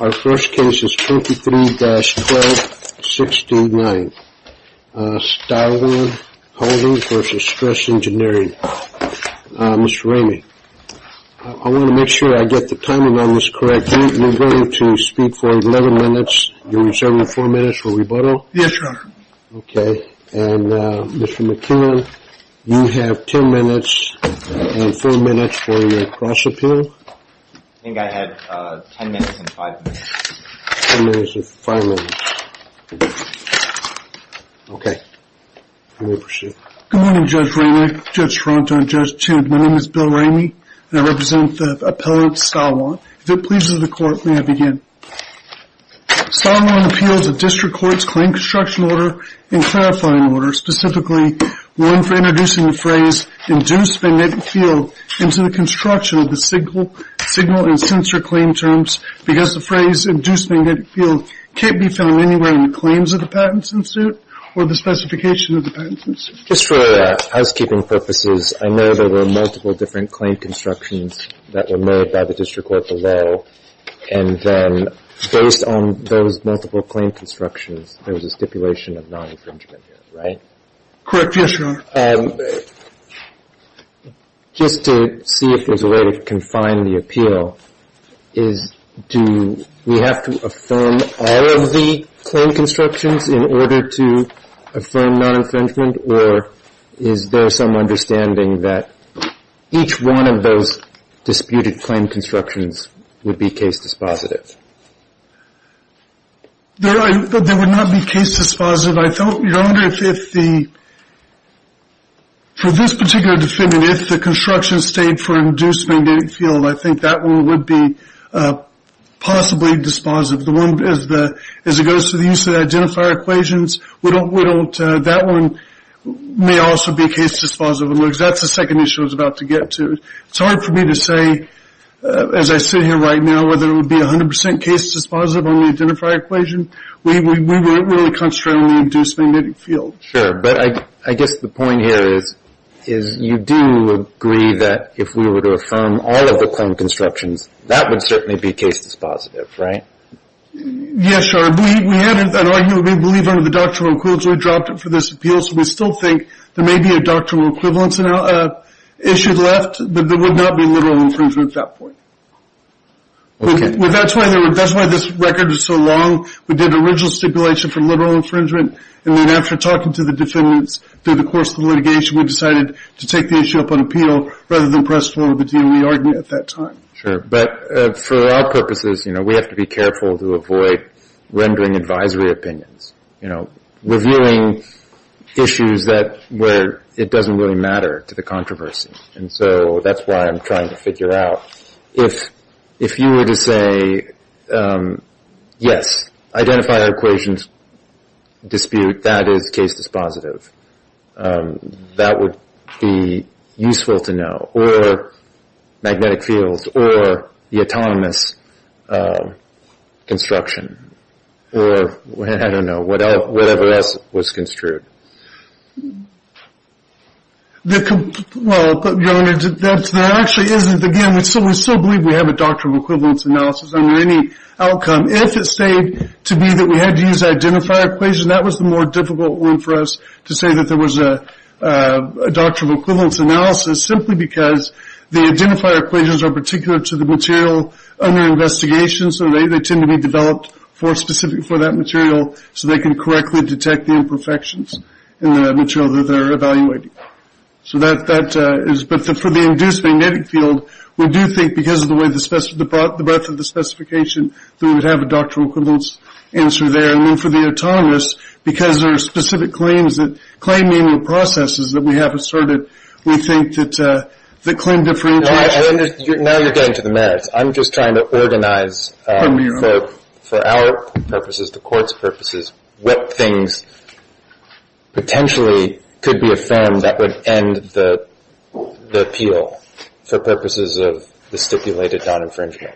Our first case is 23-12-69, Stylwan Holding v. Stress Engineering. Mr. Ramey, I want to make sure I get the timing on this correct. You're going to speak for 11 minutes. You're reserving four minutes for rebuttal? Yes, Your Honor. Okay. And Mr. McKinnon, you have 10 minutes and four minutes for your cross-appeal. I think I had 10 minutes and five minutes. 10 minutes and five minutes. Okay. You may proceed. Good morning, Judge Ramey, Judge Tronto, and Judge Tude. My name is Bill Ramey, and I represent the appellant Stylwan. If it pleases the Court, may I begin? Stylwan appeals a district court's claim construction order and clarifying order, specifically one for introducing the phrase induced magnetic field into the construction of the signal and sensor claim terms because the phrase induced magnetic field can't be found anywhere in the claims of the patents in suit or the specification of the patents in suit. Just for housekeeping purposes, I know there were multiple different claim constructions that were made by the district court below, and then based on those multiple claim constructions, there was a stipulation of non-infringement here, right? Correct. Yes, Your Honor. Just to see if there's a way to confine the appeal, is do we have to affirm all of the claim constructions in order to affirm non-infringement, or is there some understanding that each one of those disputed claim constructions would be case dispositive? They would not be case dispositive. Your Honor, for this particular defendant, if the construction stayed for induced magnetic field, I think that one would be possibly dispositive. As it goes to the use of identifier equations, that one may also be case dispositive because that's the second issue I was about to get to. It's hard for me to say, as I sit here right now, whether it would be 100% case dispositive on the identifier equation. We wouldn't really constrain the induced magnetic field. Sure, but I guess the point here is you do agree that if we were to affirm all of the claim constructions, that would certainly be case dispositive, right? Yes, Your Honor. We had an argument, we believe, under the doctrinal equivalence. We dropped it for this appeal, so we still think there may be a doctrinal equivalence issue left, but there would not be literal infringement at that point. Okay. That's why this record is so long. We did original stipulation for literal infringement, and then after talking to the defendants through the course of the litigation, we decided to take the issue up on appeal rather than press forward with the DOE argument at that time. Sure, but for our purposes, you know, we have to be careful to avoid rendering advisory opinions, you know, reviewing issues where it doesn't really matter to the controversy. And so that's why I'm trying to figure out, if you were to say, yes, identify the equations dispute, that is case dispositive, that would be useful to know, or magnetic fields, or the autonomous construction, or, I don't know, whatever else was construed. Well, there actually isn't. Again, we still believe we have a doctrinal equivalence analysis under any outcome. If it stayed to be that we had to use identifier equation, that was the more difficult one for us to say that there was a doctrinal equivalence analysis, simply because the identifier equations are particular to the material under investigation, so they tend to be developed for specific for that material so they can correctly detect the imperfections in the material that they're evaluating. So that is, but for the induced magnetic field, we do think because of the breadth of the specification that we would have a doctrinal equivalence answer there. And then for the autonomous, because there are specific claims that claim manual processes that we haven't started, we think that claim differentiation. Now you're getting to the merits. I'm just trying to organize for our purposes, the court's purposes, what things potentially could be affirmed that would end the appeal for purposes of the stipulated non-infringement,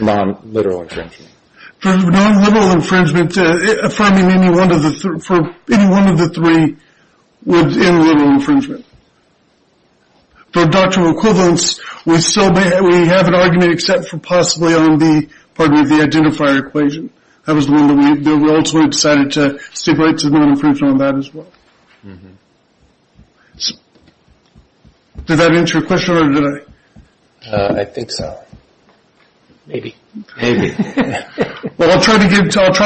non-literal infringement. For non-literal infringement, affirming any one of the three would end literal infringement. For doctrinal equivalence, we have an argument except for possibly on the identifier equation. That was the one that we ultimately decided to stipulate to non-infringement on that as well. Did that answer your question or did I? I think so. Maybe. Well, I'll try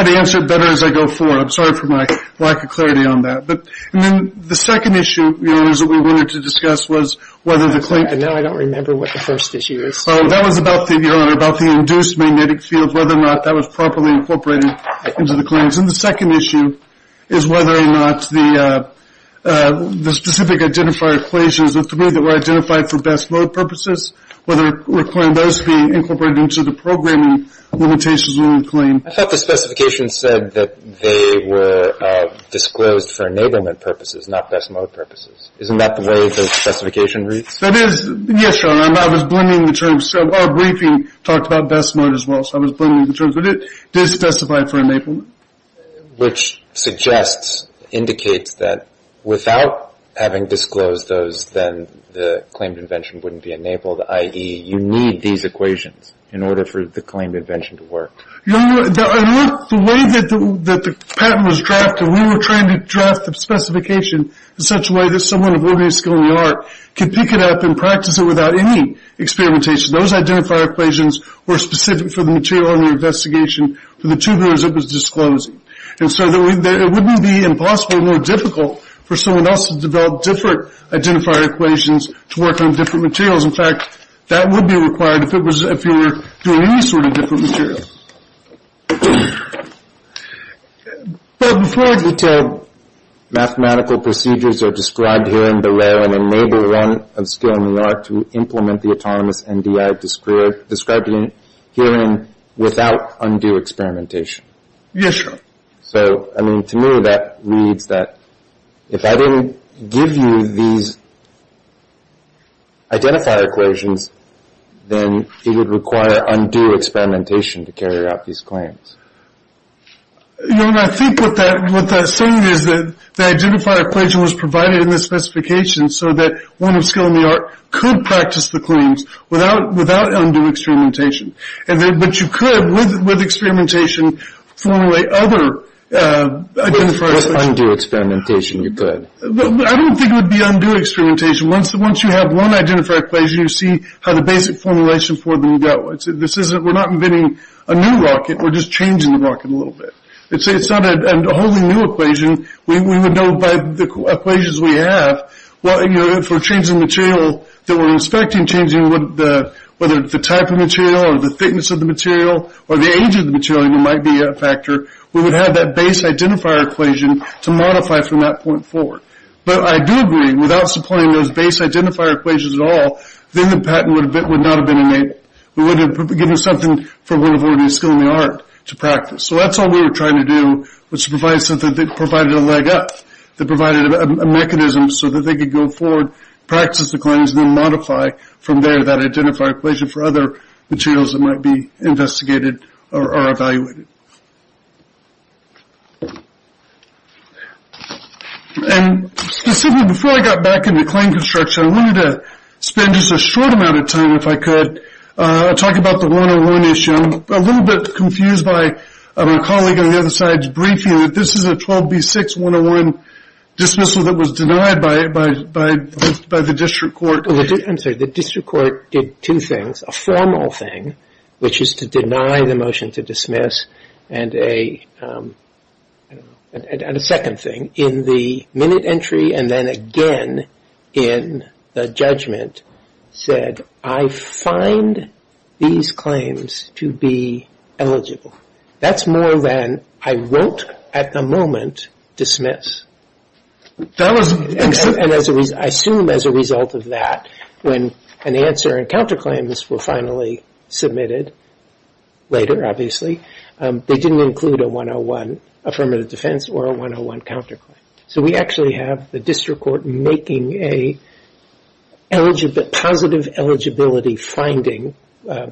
to answer it better as I go forward. I'm sorry for my lack of clarity on that. And then the second issue, Your Honor, is that we wanted to discuss was whether the claim. Now I don't remember what the first issue is. That was about the induced magnetic field, whether or not that was properly incorporated into the claims. And the second issue is whether or not the specific identifier equations, the three that were identified for best mode purposes, whether a claim does be incorporated into the programming limitations of the claim. I thought the specification said that they were disclosed for enablement purposes, not best mode purposes. Isn't that the way the specification reads? That is. Yes, Your Honor. I was blending the terms. Our briefing talked about best mode as well, so I was blending the terms. But it does specify for enablement. Which suggests, indicates that without having disclosed those, then the claimed invention wouldn't be enabled, i.e., you need these equations in order for the claimed invention to work. Your Honor, the way that the patent was drafted, we were trying to draft the specification in such a way that someone with limited skill in the art could pick it up and practice it without any experimentation. Those identifier equations were specific for the material in the investigation for the tubulars it was disclosing. And so it wouldn't be impossible, more difficult for someone else to develop different identifier equations to work on different materials. In fact, that would be required if you were doing any sort of different material. But before I get to mathematical procedures that are described here in the rare of skill in the art to implement the autonomous NDI described herein without undue experimentation. Yes, Your Honor. So, I mean, to me that means that if I didn't give you these identifier equations, then it would require undue experimentation to carry out these claims. Your Honor, I think what that's saying is that the identifier equation was provided in the specification so that one with skill in the art could practice the claims without undue experimentation. But you could, with experimentation, formulate other identifier equations. With undue experimentation you could. I don't think it would be undue experimentation. Once you have one identifier equation, you see how the basic formulation for them go. We're not inventing a new rocket. We're just changing the rocket a little bit. It's not a wholly new equation. We would know by the equations we have. Well, you know, if we're changing material that we're inspecting, changing whether it's the type of material or the thickness of the material or the age of the material, it might be a factor. We would have that base identifier equation to modify from that point forward. But I do agree, without supplying those base identifier equations at all, then the patent would not have been enabled. We would have given something for one who already has skill in the art to practice. So that's all we were trying to do was to provide something that provided a leg up, that provided a mechanism so that they could go forward, practice the claims, and then modify from there that identifier equation for other materials that might be investigated or evaluated. And specifically, before I got back into claim construction, I wanted to spend just a short amount of time, if I could, talking about the 101 issue. I'm a little bit confused by a colleague on the other side's briefing. This is a 12B6101 dismissal that was denied by the district court. I'm sorry, the district court did two things. A formal thing, which is to deny the motion to dismiss, and a second thing, in the minute entry and then again in the judgment, said I find these claims to be eligible. That's more than I won't at the moment dismiss. And I assume as a result of that, when an answer and counterclaims were finally submitted, later obviously, they didn't include a 101 affirmative defense or a 101 counterclaim. So we actually have the district court making a positive eligibility finding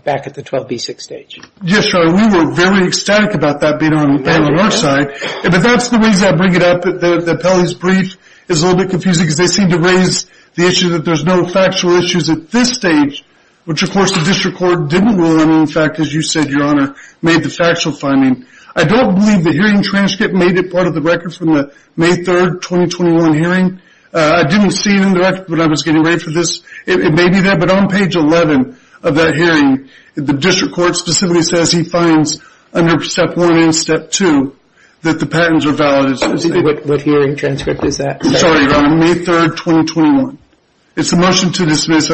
back at the 12B6 stage. Yes, sir. We were very ecstatic about that being on our side. But that's the reason I bring it up that Pelley's brief is a little bit confusing because they seem to raise the issue that there's no factual issues at this stage, which of course the district court didn't rule on. In fact, as you said, Your Honor, made the factual finding. I don't believe the hearing transcript made it part of the record from the May 3, 2021 hearing. I didn't see it in the record when I was getting ready for this. It may be there, but on page 11 of that hearing, the district court specifically says he finds under Step 1 and Step 2 that the patents are valid. What hearing transcript is that? Sorry, Your Honor, May 3, 2021. It's a motion to dismiss.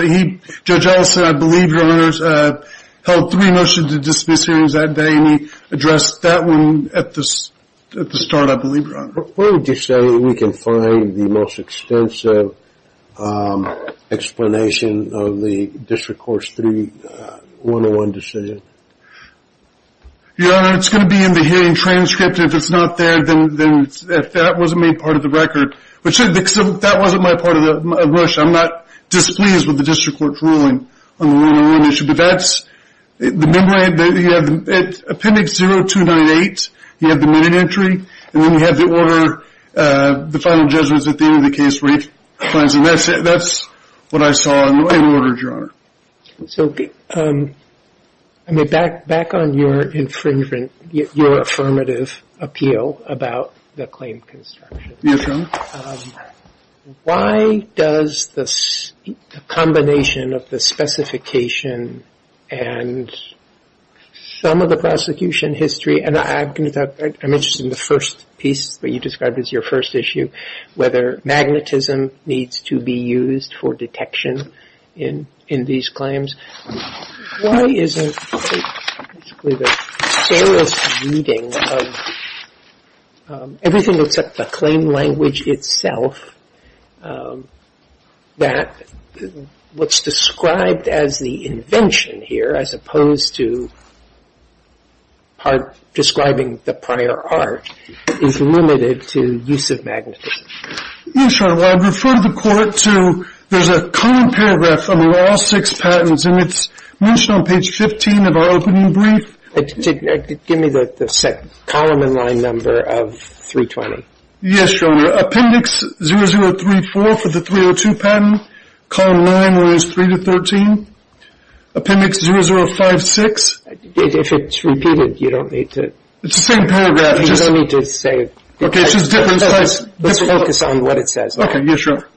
Judge Ellis, I believe, Your Honor, held three motions to dismiss hearings that day, and he addressed that one at the start, I believe, Your Honor. Where would you say we can find the most extensive explanation of the district court's 3-101 decision? Your Honor, it's going to be in the hearing transcript. If it's not there, then that wasn't made part of the record. That wasn't my part of the rush. I'm not displeased with the district court's ruling on the 1-01 issue. At appendix 0298, you have the minute entry, and then you have the order, the final judgments at the end of the case. That's what I saw in order, Your Honor. So back on your infringement, your affirmative appeal about the claim construction. Yes, Your Honor. Why does the combination of the specification and some of the prosecution history, and I'm interested in the first piece that you described as your first issue, whether magnetism needs to be used for detection in these claims. Why is it that everything except the claim language itself, that what's described as the invention here, as opposed to describing the prior art, is limited to use of magnetism? Yes, Your Honor. Well, I'd refer the court to, there's a common paragraph among all six patents, and it's mentioned on page 15 of our opening brief. Give me the column and line number of 320. Yes, Your Honor. Appendix 0034 for the 302 patent, column 9, lines 3 to 13. Appendix 0056. If it's repeated, you don't need to. It's the same paragraph. You don't need to say it. Let's focus on what it says. Yes, Your Honor.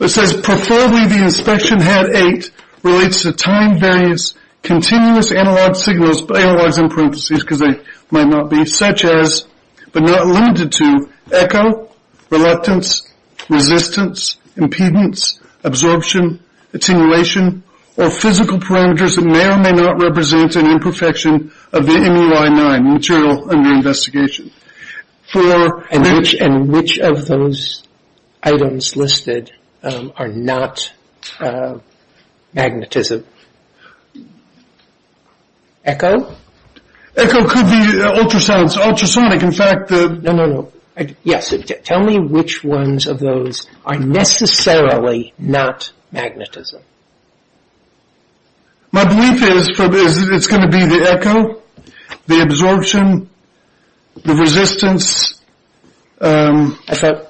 It says, Preferably the inspection had eight relates to time-various continuous analog signals, but analogs in parentheses because they might not be, such as, but not limited to, echo, reluctance, resistance, impedance, absorption, attenuation, or physical parameters that may or may not represent an imperfection of the MUI-9 material under investigation. And which of those items listed are not magnetism? Echo could be ultrasonic. No, no, no. Yes. Tell me which ones of those are necessarily not magnetism. My belief is it's going to be the echo, the absorption, the resistance. I thought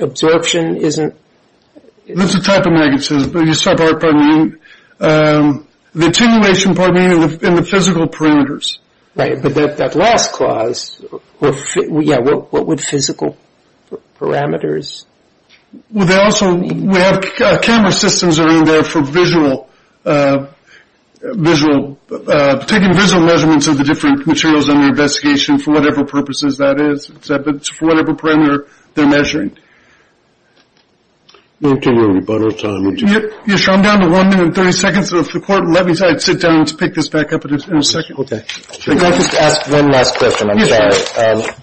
absorption isn't... It's a type of magnetism, but you start by, pardon me, the attenuation, pardon me, and the physical parameters. Right, but that last clause, yeah, what would physical parameters... Well, they also, we have camera systems that are in there for visual, taking visual measurements of the different materials under investigation for whatever purposes that is, for whatever parameter they're measuring. We don't have any more time. Yes, Your Honor, I'm down to one minute and 30 seconds, so if the court would let me sit down to pick this back up in a second. I'd like to ask one last question, I'm sorry. Yes, Your Honor.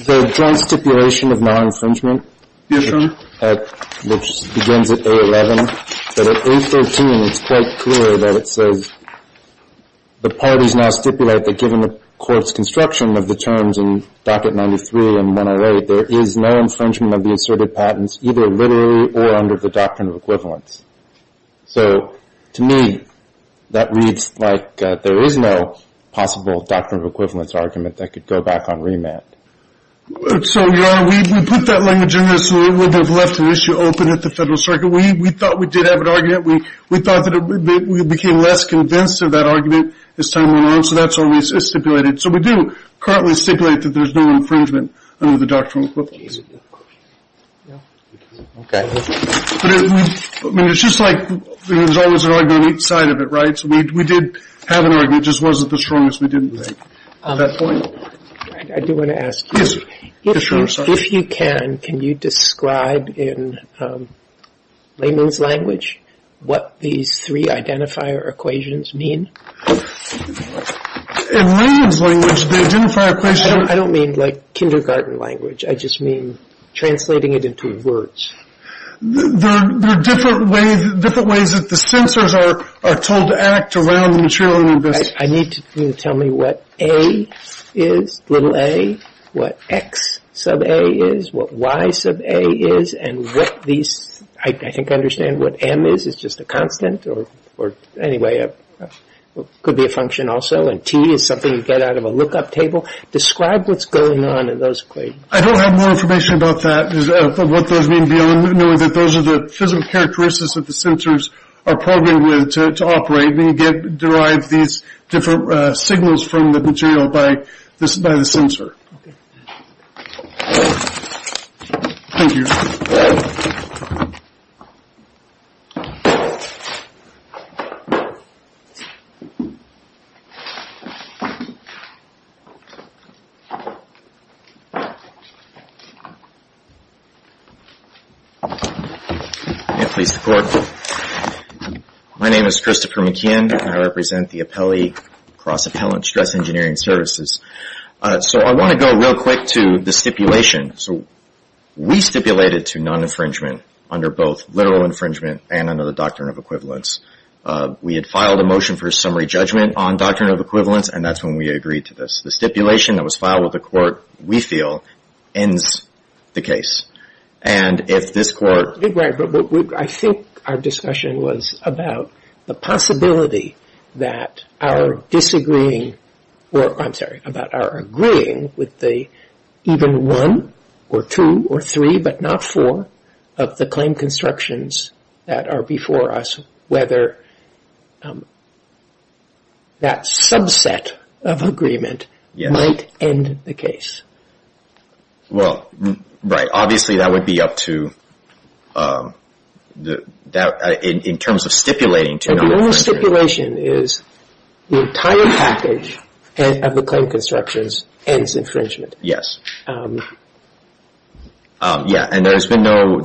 The joint stipulation of non-infringement... Yes, Your Honor. ...which begins at A11, but at A13 it's quite clear that it says, the parties now stipulate that given the court's construction of the terms in docket 93 and 108, there is no infringement of the asserted patents either literally or under the doctrine of equivalence. So to me, that reads like there is no possible doctrine of equivalence argument that could go back on remand. So, Your Honor, we put that language in there so it would have left an issue open at the Federal Circuit. We thought we did have an argument. We thought that we became less convinced of that argument as time went on, so that's what we stipulated. So we do currently stipulate that there's no infringement under the doctrine of equivalence. Okay. I mean, it's just like there's always an argument on each side of it, right? So we did have an argument. It just wasn't the strongest we didn't think. At that point, I do want to ask you... Yes, Your Honor. If you can, can you describe in layman's language what these three identifier equations mean? In layman's language, the identifier equation... I don't mean like kindergarten language. I just mean translating it into words. There are different ways that the sensors are told to act around the material in this. I need you to tell me what a is, little a, what x sub a is, what y sub a is, and what these... I think I understand what m is. It's just a constant or, anyway, could be a function also, and t is something you get out of a look-up table. Describe what's going on in those equations. I don't have more information about that, what those mean, knowing that those are the physical characteristics that the sensors are programmed with to operate, and you derive these different signals from the material by the sensor. Thank you. May it please the Court. My name is Christopher McKeon, and I represent the Cross-Appellant Stress Engineering Services. So I want to go real quick to the stipulation. So we stipulated to non-infringement under both literal infringement and under the Doctrine of Equivalence. We had filed a motion for a summary judgment on Doctrine of Equivalence, and that's when we agreed to this. The stipulation that was filed with the Court, we feel, ends the case. And if this Court... I think our discussion was about the possibility that our disagreeing... I'm sorry, about our agreeing with the even one or two or three, but not four, of the claim constructions that are before us, whether that subset of agreement might end the case. Well, right. Obviously that would be up to... in terms of stipulating to non-infringement. The only stipulation is the entire package of the claim constructions ends infringement. Yes. Yes. And there's no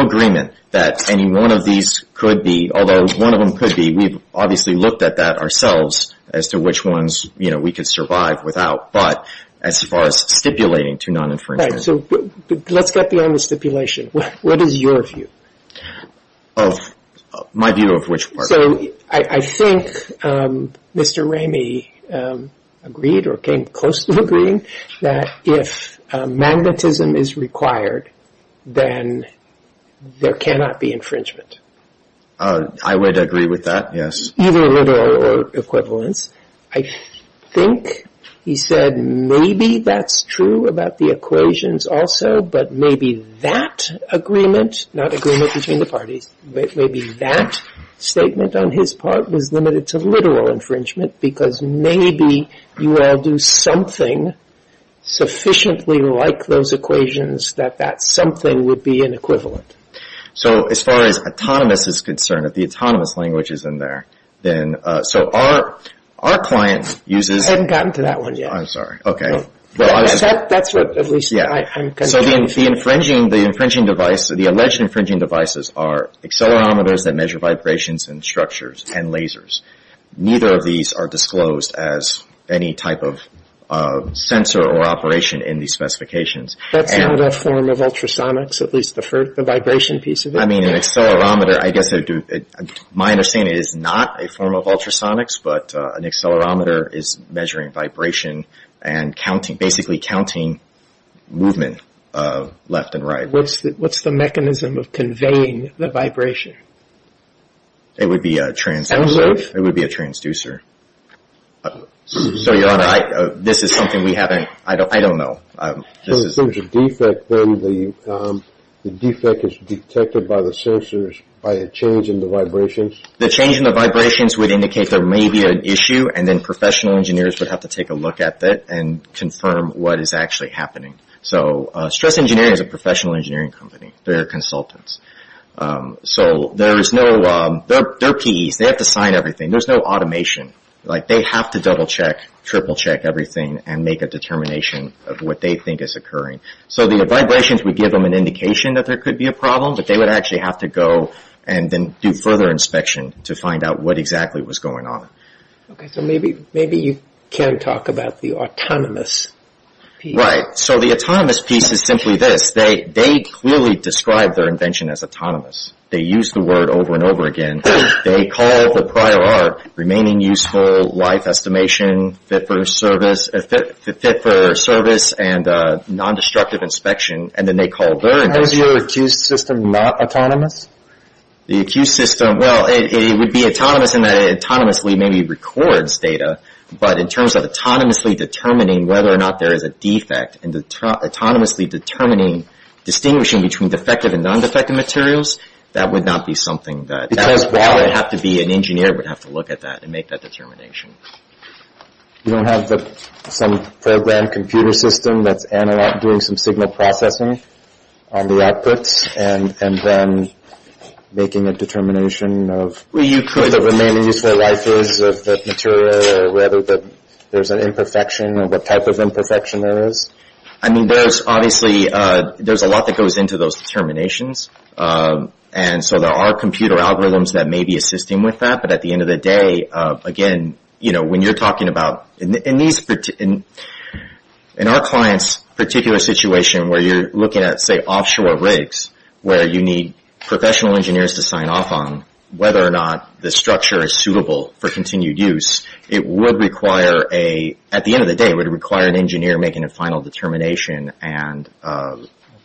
agreement that any one of these could be, although one of them could be. We've obviously looked at that ourselves as to which ones we could survive without. But as far as stipulating to non-infringement... Right. So let's get beyond the stipulation. What is your view? My view of which part? So I think Mr. Ramey agreed, or came close to agreeing, that if magnetism is required, then there cannot be infringement. I would agree with that, yes. Either a literal or equivalence. I think he said maybe that's true about the equations also, but maybe that agreement, not agreement between the parties, maybe that statement on his part was limited to literal infringement because maybe you all do something sufficiently like those equations that that something would be an equivalent. So as far as autonomous is concerned, if the autonomous language is in there, then so our client uses... I haven't gotten to that one yet. I'm sorry. That's what at least I'm concerned with. So the infringing device, the alleged infringing devices, are accelerometers that measure vibrations and structures and lasers. Neither of these are disclosed as any type of sensor or operation in these specifications. That's not a form of ultrasonics, at least the vibration piece of it? I mean, an accelerometer, I guess my understanding is not a form of ultrasonics, but an accelerometer is measuring vibration and counting, basically counting movement left and right. What's the mechanism of conveying the vibration? It would be a transducer. A loop? It would be a transducer. So, Your Honor, this is something we haven't... I don't know. If there's a defect, then the defect is detected by the sensors by a change in the vibrations? The change in the vibrations would indicate there may be an issue, and then professional engineers would have to take a look at it and confirm what is actually happening. So Stress Engineering is a professional engineering company. They're consultants. So there is no... They're PEs. They have to sign everything. There's no automation. Like, they have to double-check, triple-check everything, and make a determination of what they think is occurring. So the vibrations would give them an indication that there could be a problem, but they would actually have to go and then do further inspection to find out what exactly was going on. So maybe you can talk about the autonomous piece. Right. So the autonomous piece is simply this. They clearly describe their invention as autonomous. They use the word over and over again. They call the prior art remaining useful, life estimation, fit for service, and non-destructive inspection, and then they call their invention... How is your accused system not autonomous? The accused system... Well, it would be autonomous in that it autonomously maybe records data, but in terms of autonomously determining whether or not there is a defect and autonomously determining... distinguishing between defective and non-defective materials, that would not be something that... That is valid. That would have to be... An engineer would have to look at that and make that determination. You don't have some program computer system that's doing some signal processing on the outputs and then making a determination of... Well, you could. ...what the remaining useful life is of the material or whether there's an imperfection or what type of imperfection there is. I mean, there's obviously... There's a lot that goes into those determinations, and so there are computer algorithms that may be assisting with that, but at the end of the day, again, you know, when you're talking about... In these... In our client's particular situation where you're looking at, say, offshore rigs where you need professional engineers to sign off on whether or not the structure is suitable for continued use, it would require a... At the end of the day, it would require an engineer making a final determination and so...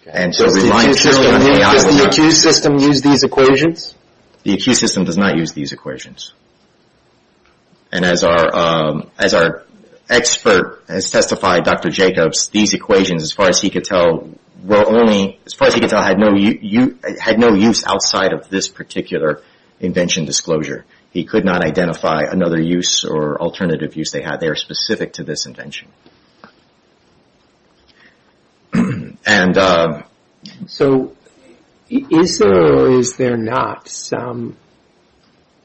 Does the accused system use these equations? The accused system does not use these equations. And as our expert has testified, Dr. Jacobs, these equations, as far as he could tell, were only... As far as he could tell, had no use outside of this particular invention disclosure. He could not identify another use or alternative use they had. They are specific to this invention. And... So is there or is there not some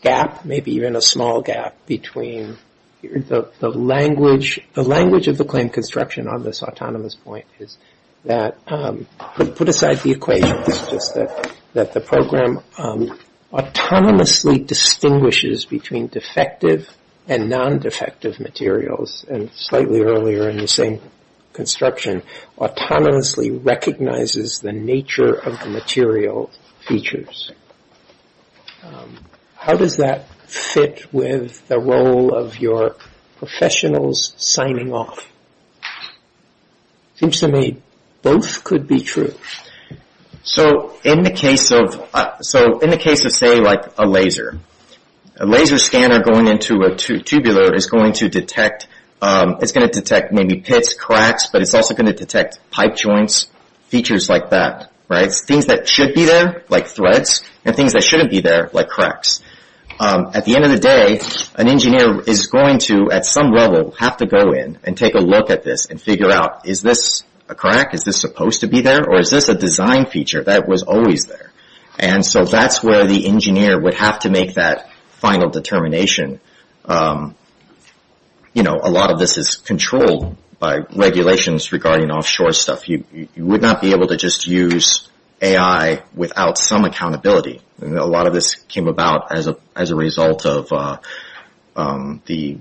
gap, maybe even a small gap between the language... The language of the claim construction on this autonomous point is that... Put aside the equations. Just that the program autonomously distinguishes between defective and non-defective materials. And slightly earlier in the same construction, autonomously recognizes the nature of the material features. How does that fit with the role of your professionals signing off? Seems to me both could be true. So in the case of... So in the case of, say, like a laser, a laser scanner going into a tubular is going to detect... It's going to detect maybe pits, cracks, but it's also going to detect pipe joints, features like that, right? Things that should be there, like threads, and things that shouldn't be there, like cracks. At the end of the day, an engineer is going to, at some level, have to go in and take a look at this and figure out, is this a crack? Is this supposed to be there? Or is this a design feature that was always there? And so that's where the engineer would have to make that final determination. You know, a lot of this is controlled by regulations regarding offshore stuff. You would not be able to just use AI without some accountability. A lot of this came about as a result of the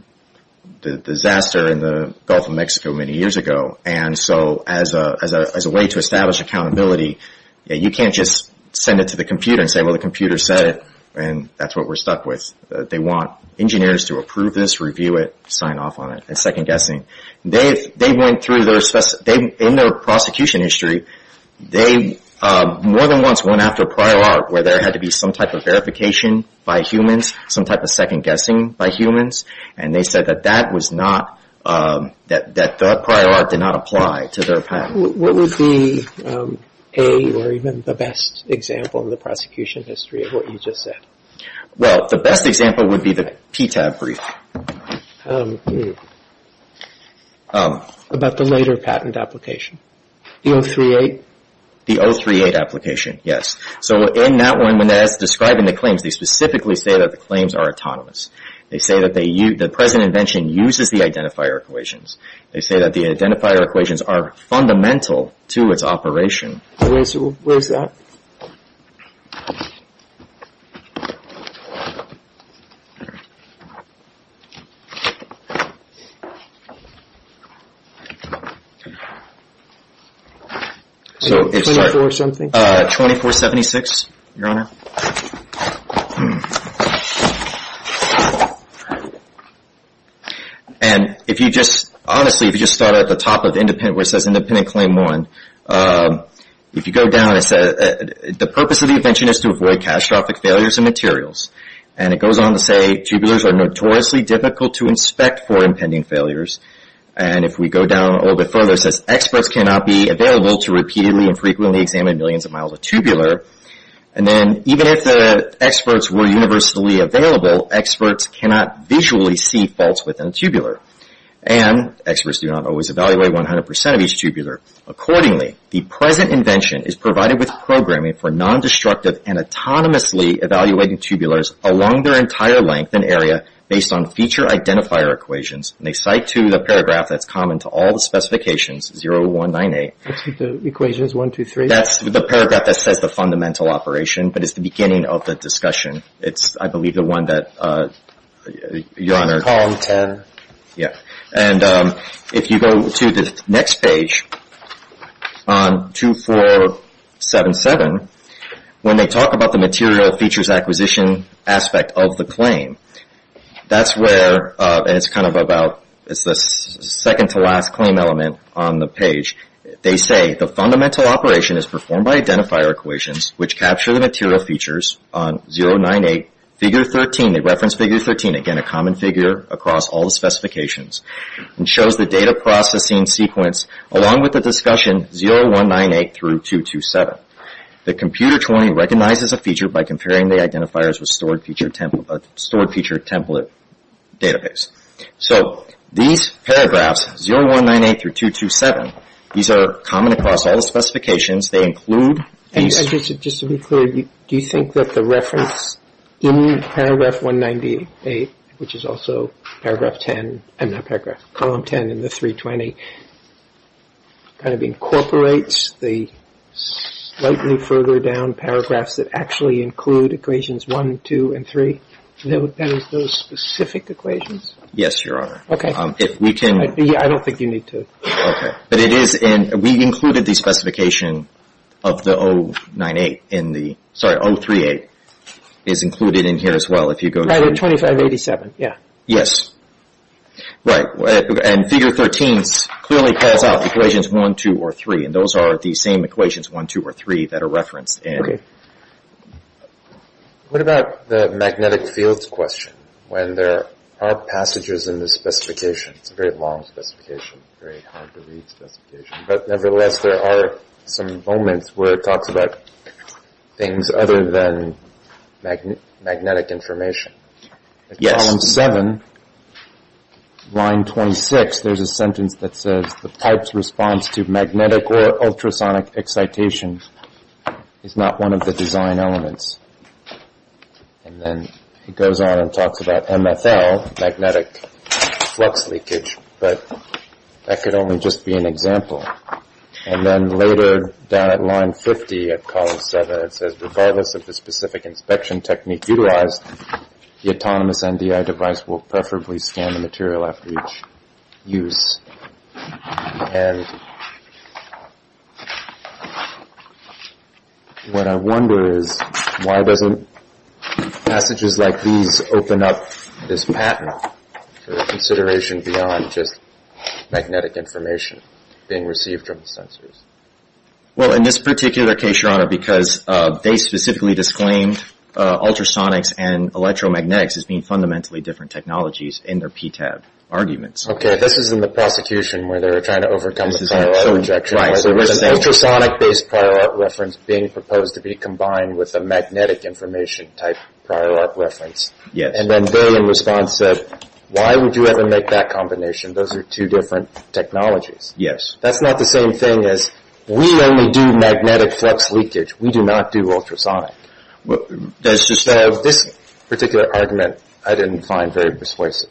disaster in the Gulf of Mexico many years ago. And so as a way to establish accountability, you can't just send it to the computer and say, Well, the computer said it, and that's what we're stuck with. They want engineers to approve this, review it, sign off on it, and second-guessing. They went through their... In their prosecution history, they more than once went after prior art, where there had to be some type of verification by humans, some type of second-guessing by humans, and they said that that was not... that the prior art did not apply to their patent. What would be a or even the best example in the prosecution history of what you just said? Well, the best example would be the PTAB brief. About the later patent application, the 038? The 038 application, yes. So in that one, when it's describing the claims, they specifically say that the claims are autonomous. They say that the present invention uses the identifier equations. They say that the identifier equations are fundamental to its operation. Where's that? 24-something? 2476, Your Honor. Hmm. And if you just... Honestly, if you just start at the top of independent, where it says independent claim one, if you go down, it says, the purpose of the invention is to avoid catastrophic failures in materials. And it goes on to say, tubulars are notoriously difficult to inspect for impending failures. And if we go down a little bit further, it says, experts cannot be available to repeatedly and frequently examine millions of miles of tubular. And then, even if the experts were universally available, experts cannot visually see faults within a tubular. And experts do not always evaluate 100% of each tubular. Accordingly, the present invention is provided with programming for non-destructive and autonomously evaluating tubulars along their entire length and area based on feature identifier equations. And they cite to the paragraph that's common to all the specifications, 0198. That's with the equations, one, two, three? That's the paragraph that says the fundamental operation, but it's the beginning of the discussion. It's, I believe, the one that, Your Honor... Column 10. Yeah. And if you go to the next page on 2477, when they talk about the material features acquisition aspect of the claim, that's where, and it's kind of about, it's the second to last claim element on the page. They say the fundamental operation is performed by identifier equations, which capture the material features on 098, figure 13, they reference figure 13, again, a common figure across all the specifications, and shows the data processing sequence along with the discussion 0198 through 227. The computer 20 recognizes a feature by comparing the identifiers with stored feature template database. So, these paragraphs, 0198 through 227, these are common across all the specifications. They include these... Just to be clear, do you think that the reference in paragraph 198, which is also paragraph 10, I mean, not paragraph, column 10 in the 320, kind of incorporates the slightly further down paragraphs that actually include equations one, two, and three? That is those specific equations? Yes, Your Honor. Okay. If we can... I don't think you need to... Okay. But it is, and we included the specification of the 098 in the, sorry, 038, is included in here as well if you go to... Right, in 2587, yeah. Yes. Right. And figure 13 clearly calls out equations one, two, or three, and those are the same equations one, two, or three that are referenced. Okay. What about the magnetic fields question when there are passages in the specification? It's a very long specification, very hard to read specification. But nevertheless, there are some moments where it talks about things other than magnetic information. Yes. In column seven, line 26, there's a sentence that says, the pipe's response to magnetic or ultrasonic excitation is not one of the design elements. And then it goes on and talks about MFL, magnetic flux leakage, but that could only just be an example. And then later down at line 50 of column seven, it says, regardless of the specific inspection technique utilized, the autonomous NDI device will preferably scan the material after each use. And what I wonder is, why doesn't passages like these open up this pattern for consideration beyond just magnetic information being received from the sensors? Well, in this particular case, Your Honor, because they specifically disclaimed ultrasonics and electromagnetics as being fundamentally different technologies in their PTAB arguments. Okay. This is in the prosecution where they were trying to overcome the prior art rejection. Right. There was an ultrasonic-based prior art reference being proposed to be combined with a magnetic information type prior art reference. Yes. And then they, in response, said, why would you ever make that combination? Those are two different technologies. Yes. That's not the same thing as, we only do magnetic flux leakage. We do not do ultrasonic. This particular argument I didn't find very persuasive.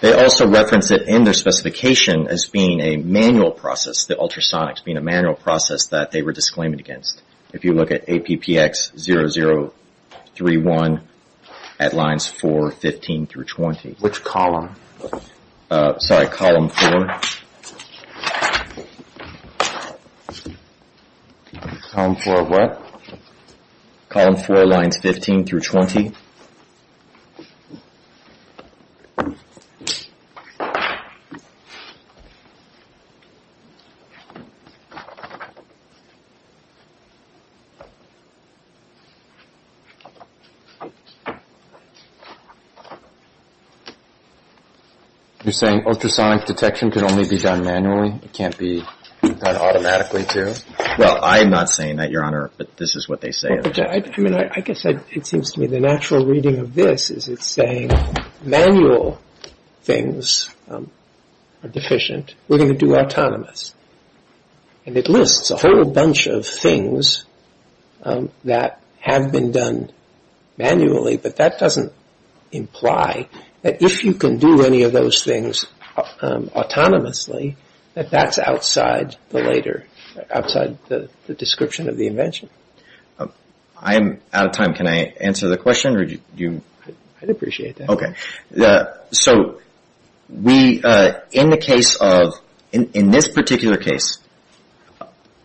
They also referenced it in their specification as being a manual process, the ultrasonics being a manual process that they were disclaiming against. If you look at APPX0031 at lines four, 15 through 20. Which column? Sorry, column four. Column four of what? Column four, lines 15 through 20. You're saying ultrasonic detection can only be done manually? It can't be done automatically, too? Well, I'm not saying that, Your Honor, but this is what they say. I mean, I guess it seems to me the natural reading of this is it's saying, manual things are deficient. We're going to do autonomous. And it lists a whole bunch of things that have been done manually, but that doesn't imply that if you can do any of those things autonomously, that that's outside the description of the invention. I'm out of time. Can I answer the question? I'd appreciate that. So in this particular case,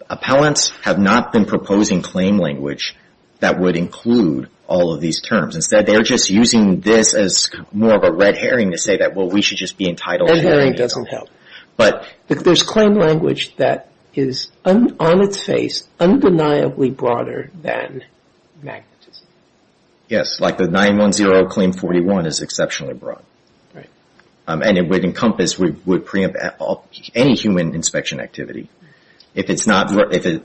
appellants have not been proposing claim language that would include all of these terms. Instead, they're just using this as more of a red herring to say that, well, we should just be entitled to these. Red herring doesn't help. There's claim language that is on its face undeniably broader than magnetism. Yes, like the 910 claim 41 is exceptionally broad. Right. And it would encompass any human inspection activity.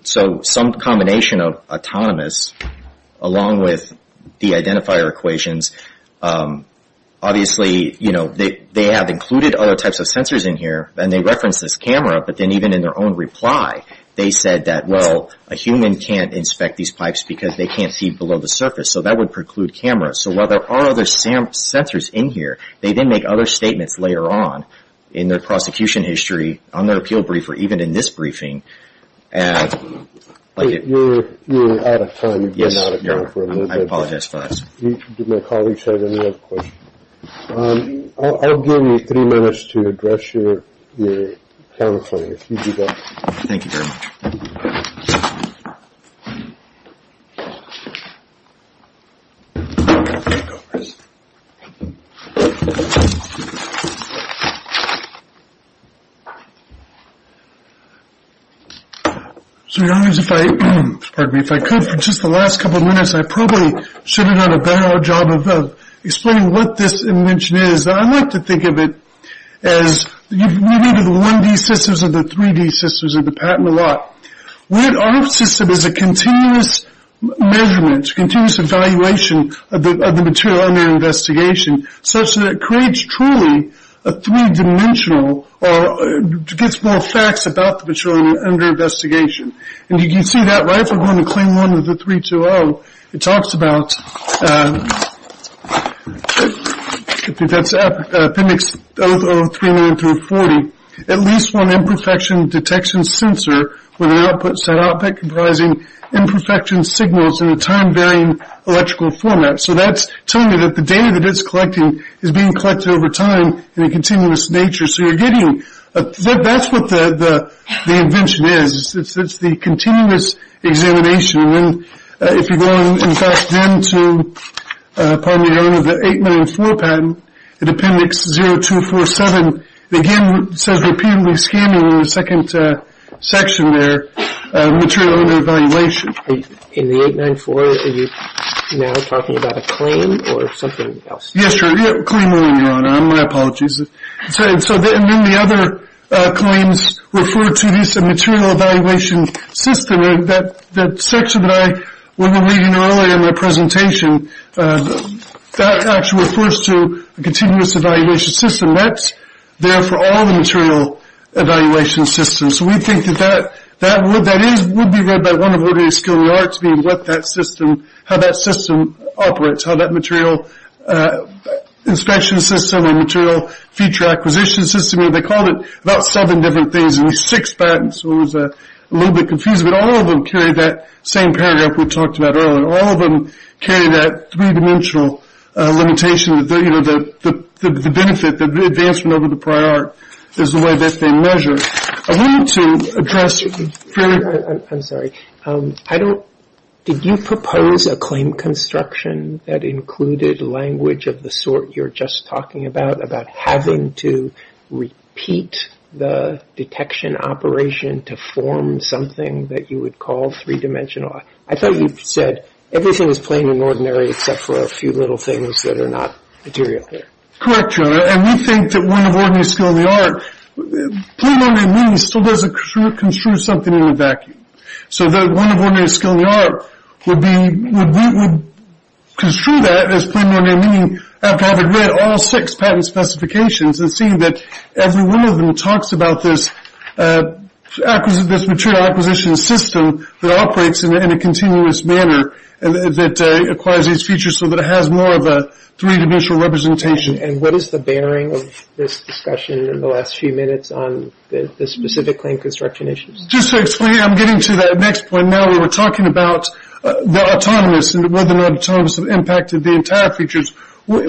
So some combination of autonomous along with the identifier equations, obviously they have included other types of sensors in here, and they reference this camera, but then even in their own reply, they said that, well, a human can't inspect these pipes because they can't see below the surface. So that would preclude cameras. So while there are other sensors in here, they then make other statements later on in their prosecution history, on their appeal briefer, even in this briefing. You're out of time. Yes, I apologize for that. Did my colleagues have any other questions? I'll give you three minutes to address your counsel if you do that. Thank you very much. So, Your Honor, if I could, for just the last couple of minutes, I probably should have done a better job of explaining what this invention is. I like to think of it as you've read into the 1D systems and the 3D systems of the patent a lot. What our system is a continuous measurement, continuous evaluation of the material under investigation, such that it creates truly a three-dimensional or gets more facts about the material under investigation. And you can see that right if we're going to claim one of the 320. It talks about, I think that's appendix 0039-40, at least one imperfection detection sensor with an output set output comprising imperfection signals in a time-varying electrical format. So that's telling me that the data that it's collecting is being collected over time in a continuous nature. So you're getting, that's what the invention is. It's the continuous examination. And then if you go, in fact, down to, pardon me, Your Honor, the 894 patent, the appendix 0247, again, says repeatedly scamming in the second section there, material under evaluation. In the 894, are you now talking about a claim or something else? Yes, Your Honor. Claim only, Your Honor. My apologies. And so then the other claims refer to this material evaluation system. That section that I was reading earlier in my presentation, that actually refers to the continuous evaluation system. That's there for all the material evaluation systems. So we think that that would be read by one of ODA's scholarly arts, being what that system, how that system operates, how that material inspection system and material feature acquisition system, they called it about seven different things, and six patents, so it was a little bit confusing. But all of them carry that same paragraph we talked about earlier. All of them carry that three-dimensional limitation, you know, the benefit, the advancement over the prior is the way that they measure. I wanted to address fairly – I'm sorry. I don't – did you propose a claim construction that included language of the sort you're just talking about, about having to repeat the detection operation to form something that you would call three-dimensional? I thought you said everything is plain and ordinary except for a few little things that are not material here. Correct, Your Honor. And we think that one of ODA's scholarly art, plain and ordinary meaning still doesn't construe something in a vacuum. So that one of ODA's scholarly art would be – would construe that as plain and ordinary meaning after having read all six patent specifications and seeing that every one of them talks about this material acquisition system that operates in a continuous manner that acquires these features so that it has more of a three-dimensional representation. And what is the bearing of this discussion in the last few minutes on the specific claim construction issues? Just to explain, I'm getting to that next point now where we're talking about the autonomous and whether or not autonomous impacted the entire features. What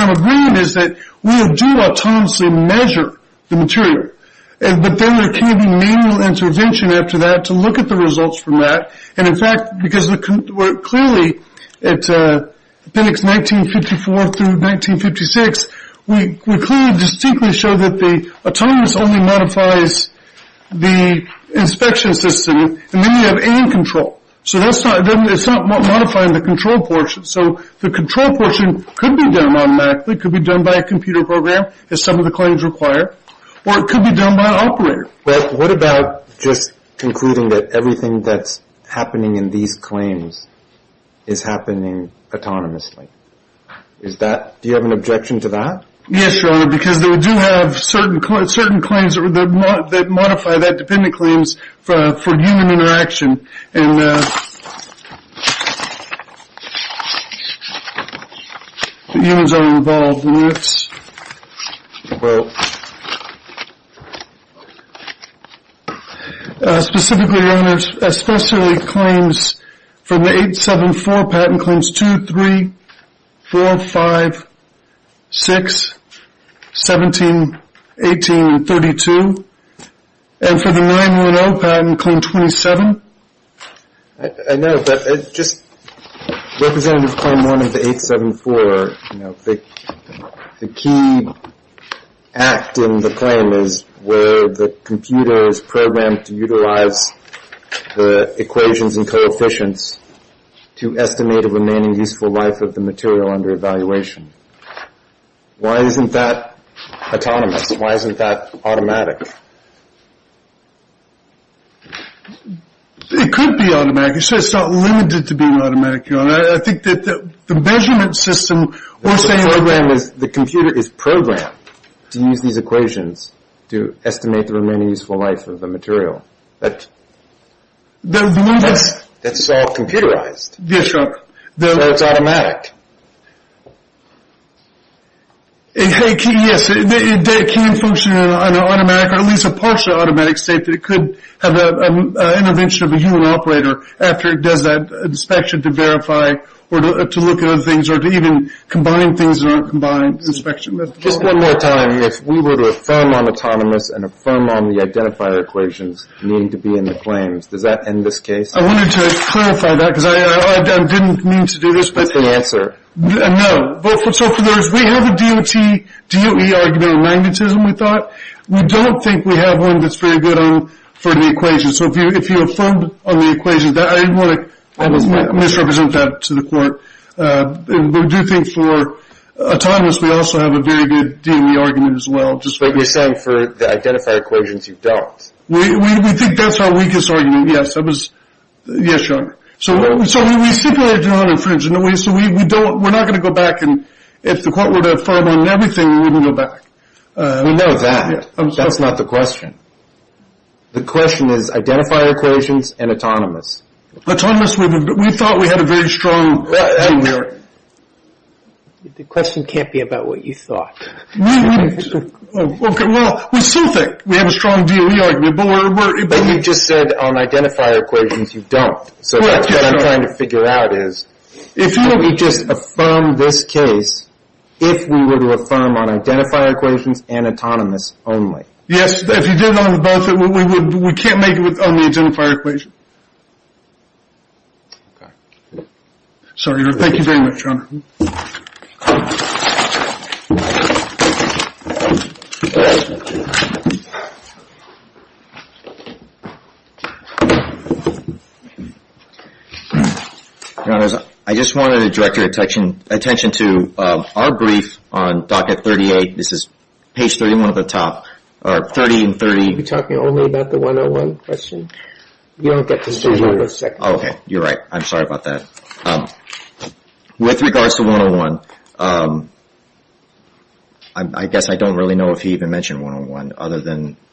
I'm agreeing is that we do autonomously measure the material, but then there can be manual intervention after that to look at the results from that. And, in fact, because we're clearly – at appendix 1954 through 1956, we clearly distinctly show that the autonomous only modifies the inspection system, and then you have aim control. So that's not – it's not modifying the control portion. So the control portion could be done automatically, could be done by a computer program as some of the claims require, or it could be done by an operator. But what about just concluding that everything that's happening in these claims is happening autonomously? Is that – do you have an objection to that? Yes, Your Honor, because they do have certain claims that modify that, patent claims for human interaction, and humans are involved in this. Specifically, Your Honor, especially claims from the 874 patent claims, 2, 3, 4, 5, 6, 17, 18, and 32. And for the 910 patent claim, 27. I know, but just representative claim 1 of the 874, the key act in the claim is where the computer is programmed to utilize the equations and coefficients to estimate the remaining useful life of the material under evaluation. Why isn't that autonomous? Why isn't that automatic? It could be automatic. It's not limited to being automatic, Your Honor. I think that the measurement system – The computer is programmed to use these equations to estimate the remaining useful life of the material. That's all computerized. Yes, Your Honor. So it's automatic. Yes, it can function in an automatic or at least a partial automatic state that it could have an intervention of a human operator after it does that inspection to verify or to look at other things or to even combine things in a combined inspection method. Just one more time. If we were to affirm on autonomous and affirm on the identifier equations, they need to be in the claims. Does that end this case? I wanted to clarify that because I didn't mean to do this, but – That's the answer. No. So for those, we have a D.O.T., D.O.E. argument of magnetism, we thought. We don't think we have one that's very good for the equations. So if you affirm on the equations, I didn't want to misrepresent that to the court. But we do think for autonomous, we also have a very good D.O.E. argument as well. But you're saying for the identifier equations, you don't. We think that's our weakest argument, yes. Yes, Your Honor. So we stipulated an infringement, so we're not going to go back and if the court were to affirm on everything, we wouldn't go back. We know that. That's not the question. The question is identifier equations and autonomous. Autonomous, we thought we had a very strong D.O.E. argument. The question can't be about what you thought. Well, we still think we have a strong D.O.E. argument, but we're – But you just said on identifier equations you don't. So what I'm trying to figure out is if you would just affirm this case if we were to affirm on identifier equations and autonomous only. Yes, if you did on both, we can't make it on the identifier equation. Okay. So, Your Honor, thank you very much, Your Honor. Your Honors, I just wanted to direct your attention to our brief on Docket 38. This is page 31 at the top, or 30 and 30. Are we talking only about the 101 question? You don't get to say that for a second. Okay, you're right. I'm sorry about that. With regards to 101, I guess I don't really know if he even mentioned 101 other than –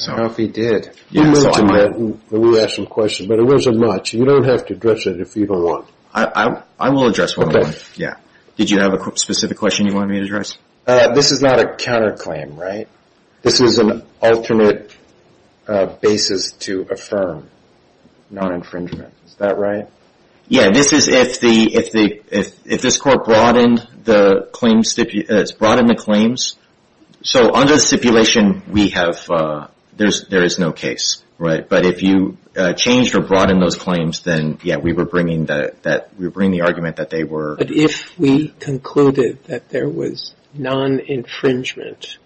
I don't know if he did. We mentioned that when we asked him the question, but it wasn't much. You don't have to address it if you don't want. I will address 101. Okay. Yeah. Did you have a specific question you wanted me to address? This is not a counterclaim, right? This is an alternate basis to affirm non-infringement. Is that right? Yeah. This is if this court broadened the claims. So, under the stipulation, there is no case, right? But if you changed or broadened those claims, then, yeah, we were bringing the argument that they were. But if we concluded that there was non-infringement,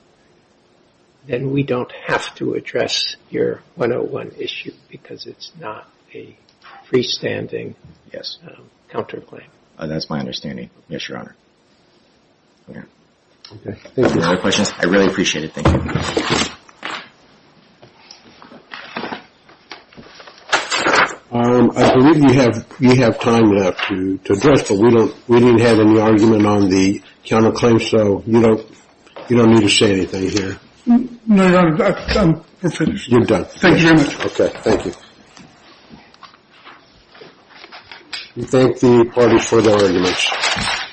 then we don't have to address your 101 issue because it's not a freestanding counterclaim. That's my understanding. Yes, Your Honor. Okay. Thank you. Any other questions? I really appreciate it. Thank you. Thank you, Your Honor. I believe you have time left to address, but we didn't have any argument on the counterclaim, so you don't need to say anything here. No, Your Honor, I'm finished. You're done. Thank you very much. Okay. Thank you. Thank the parties for their arguments.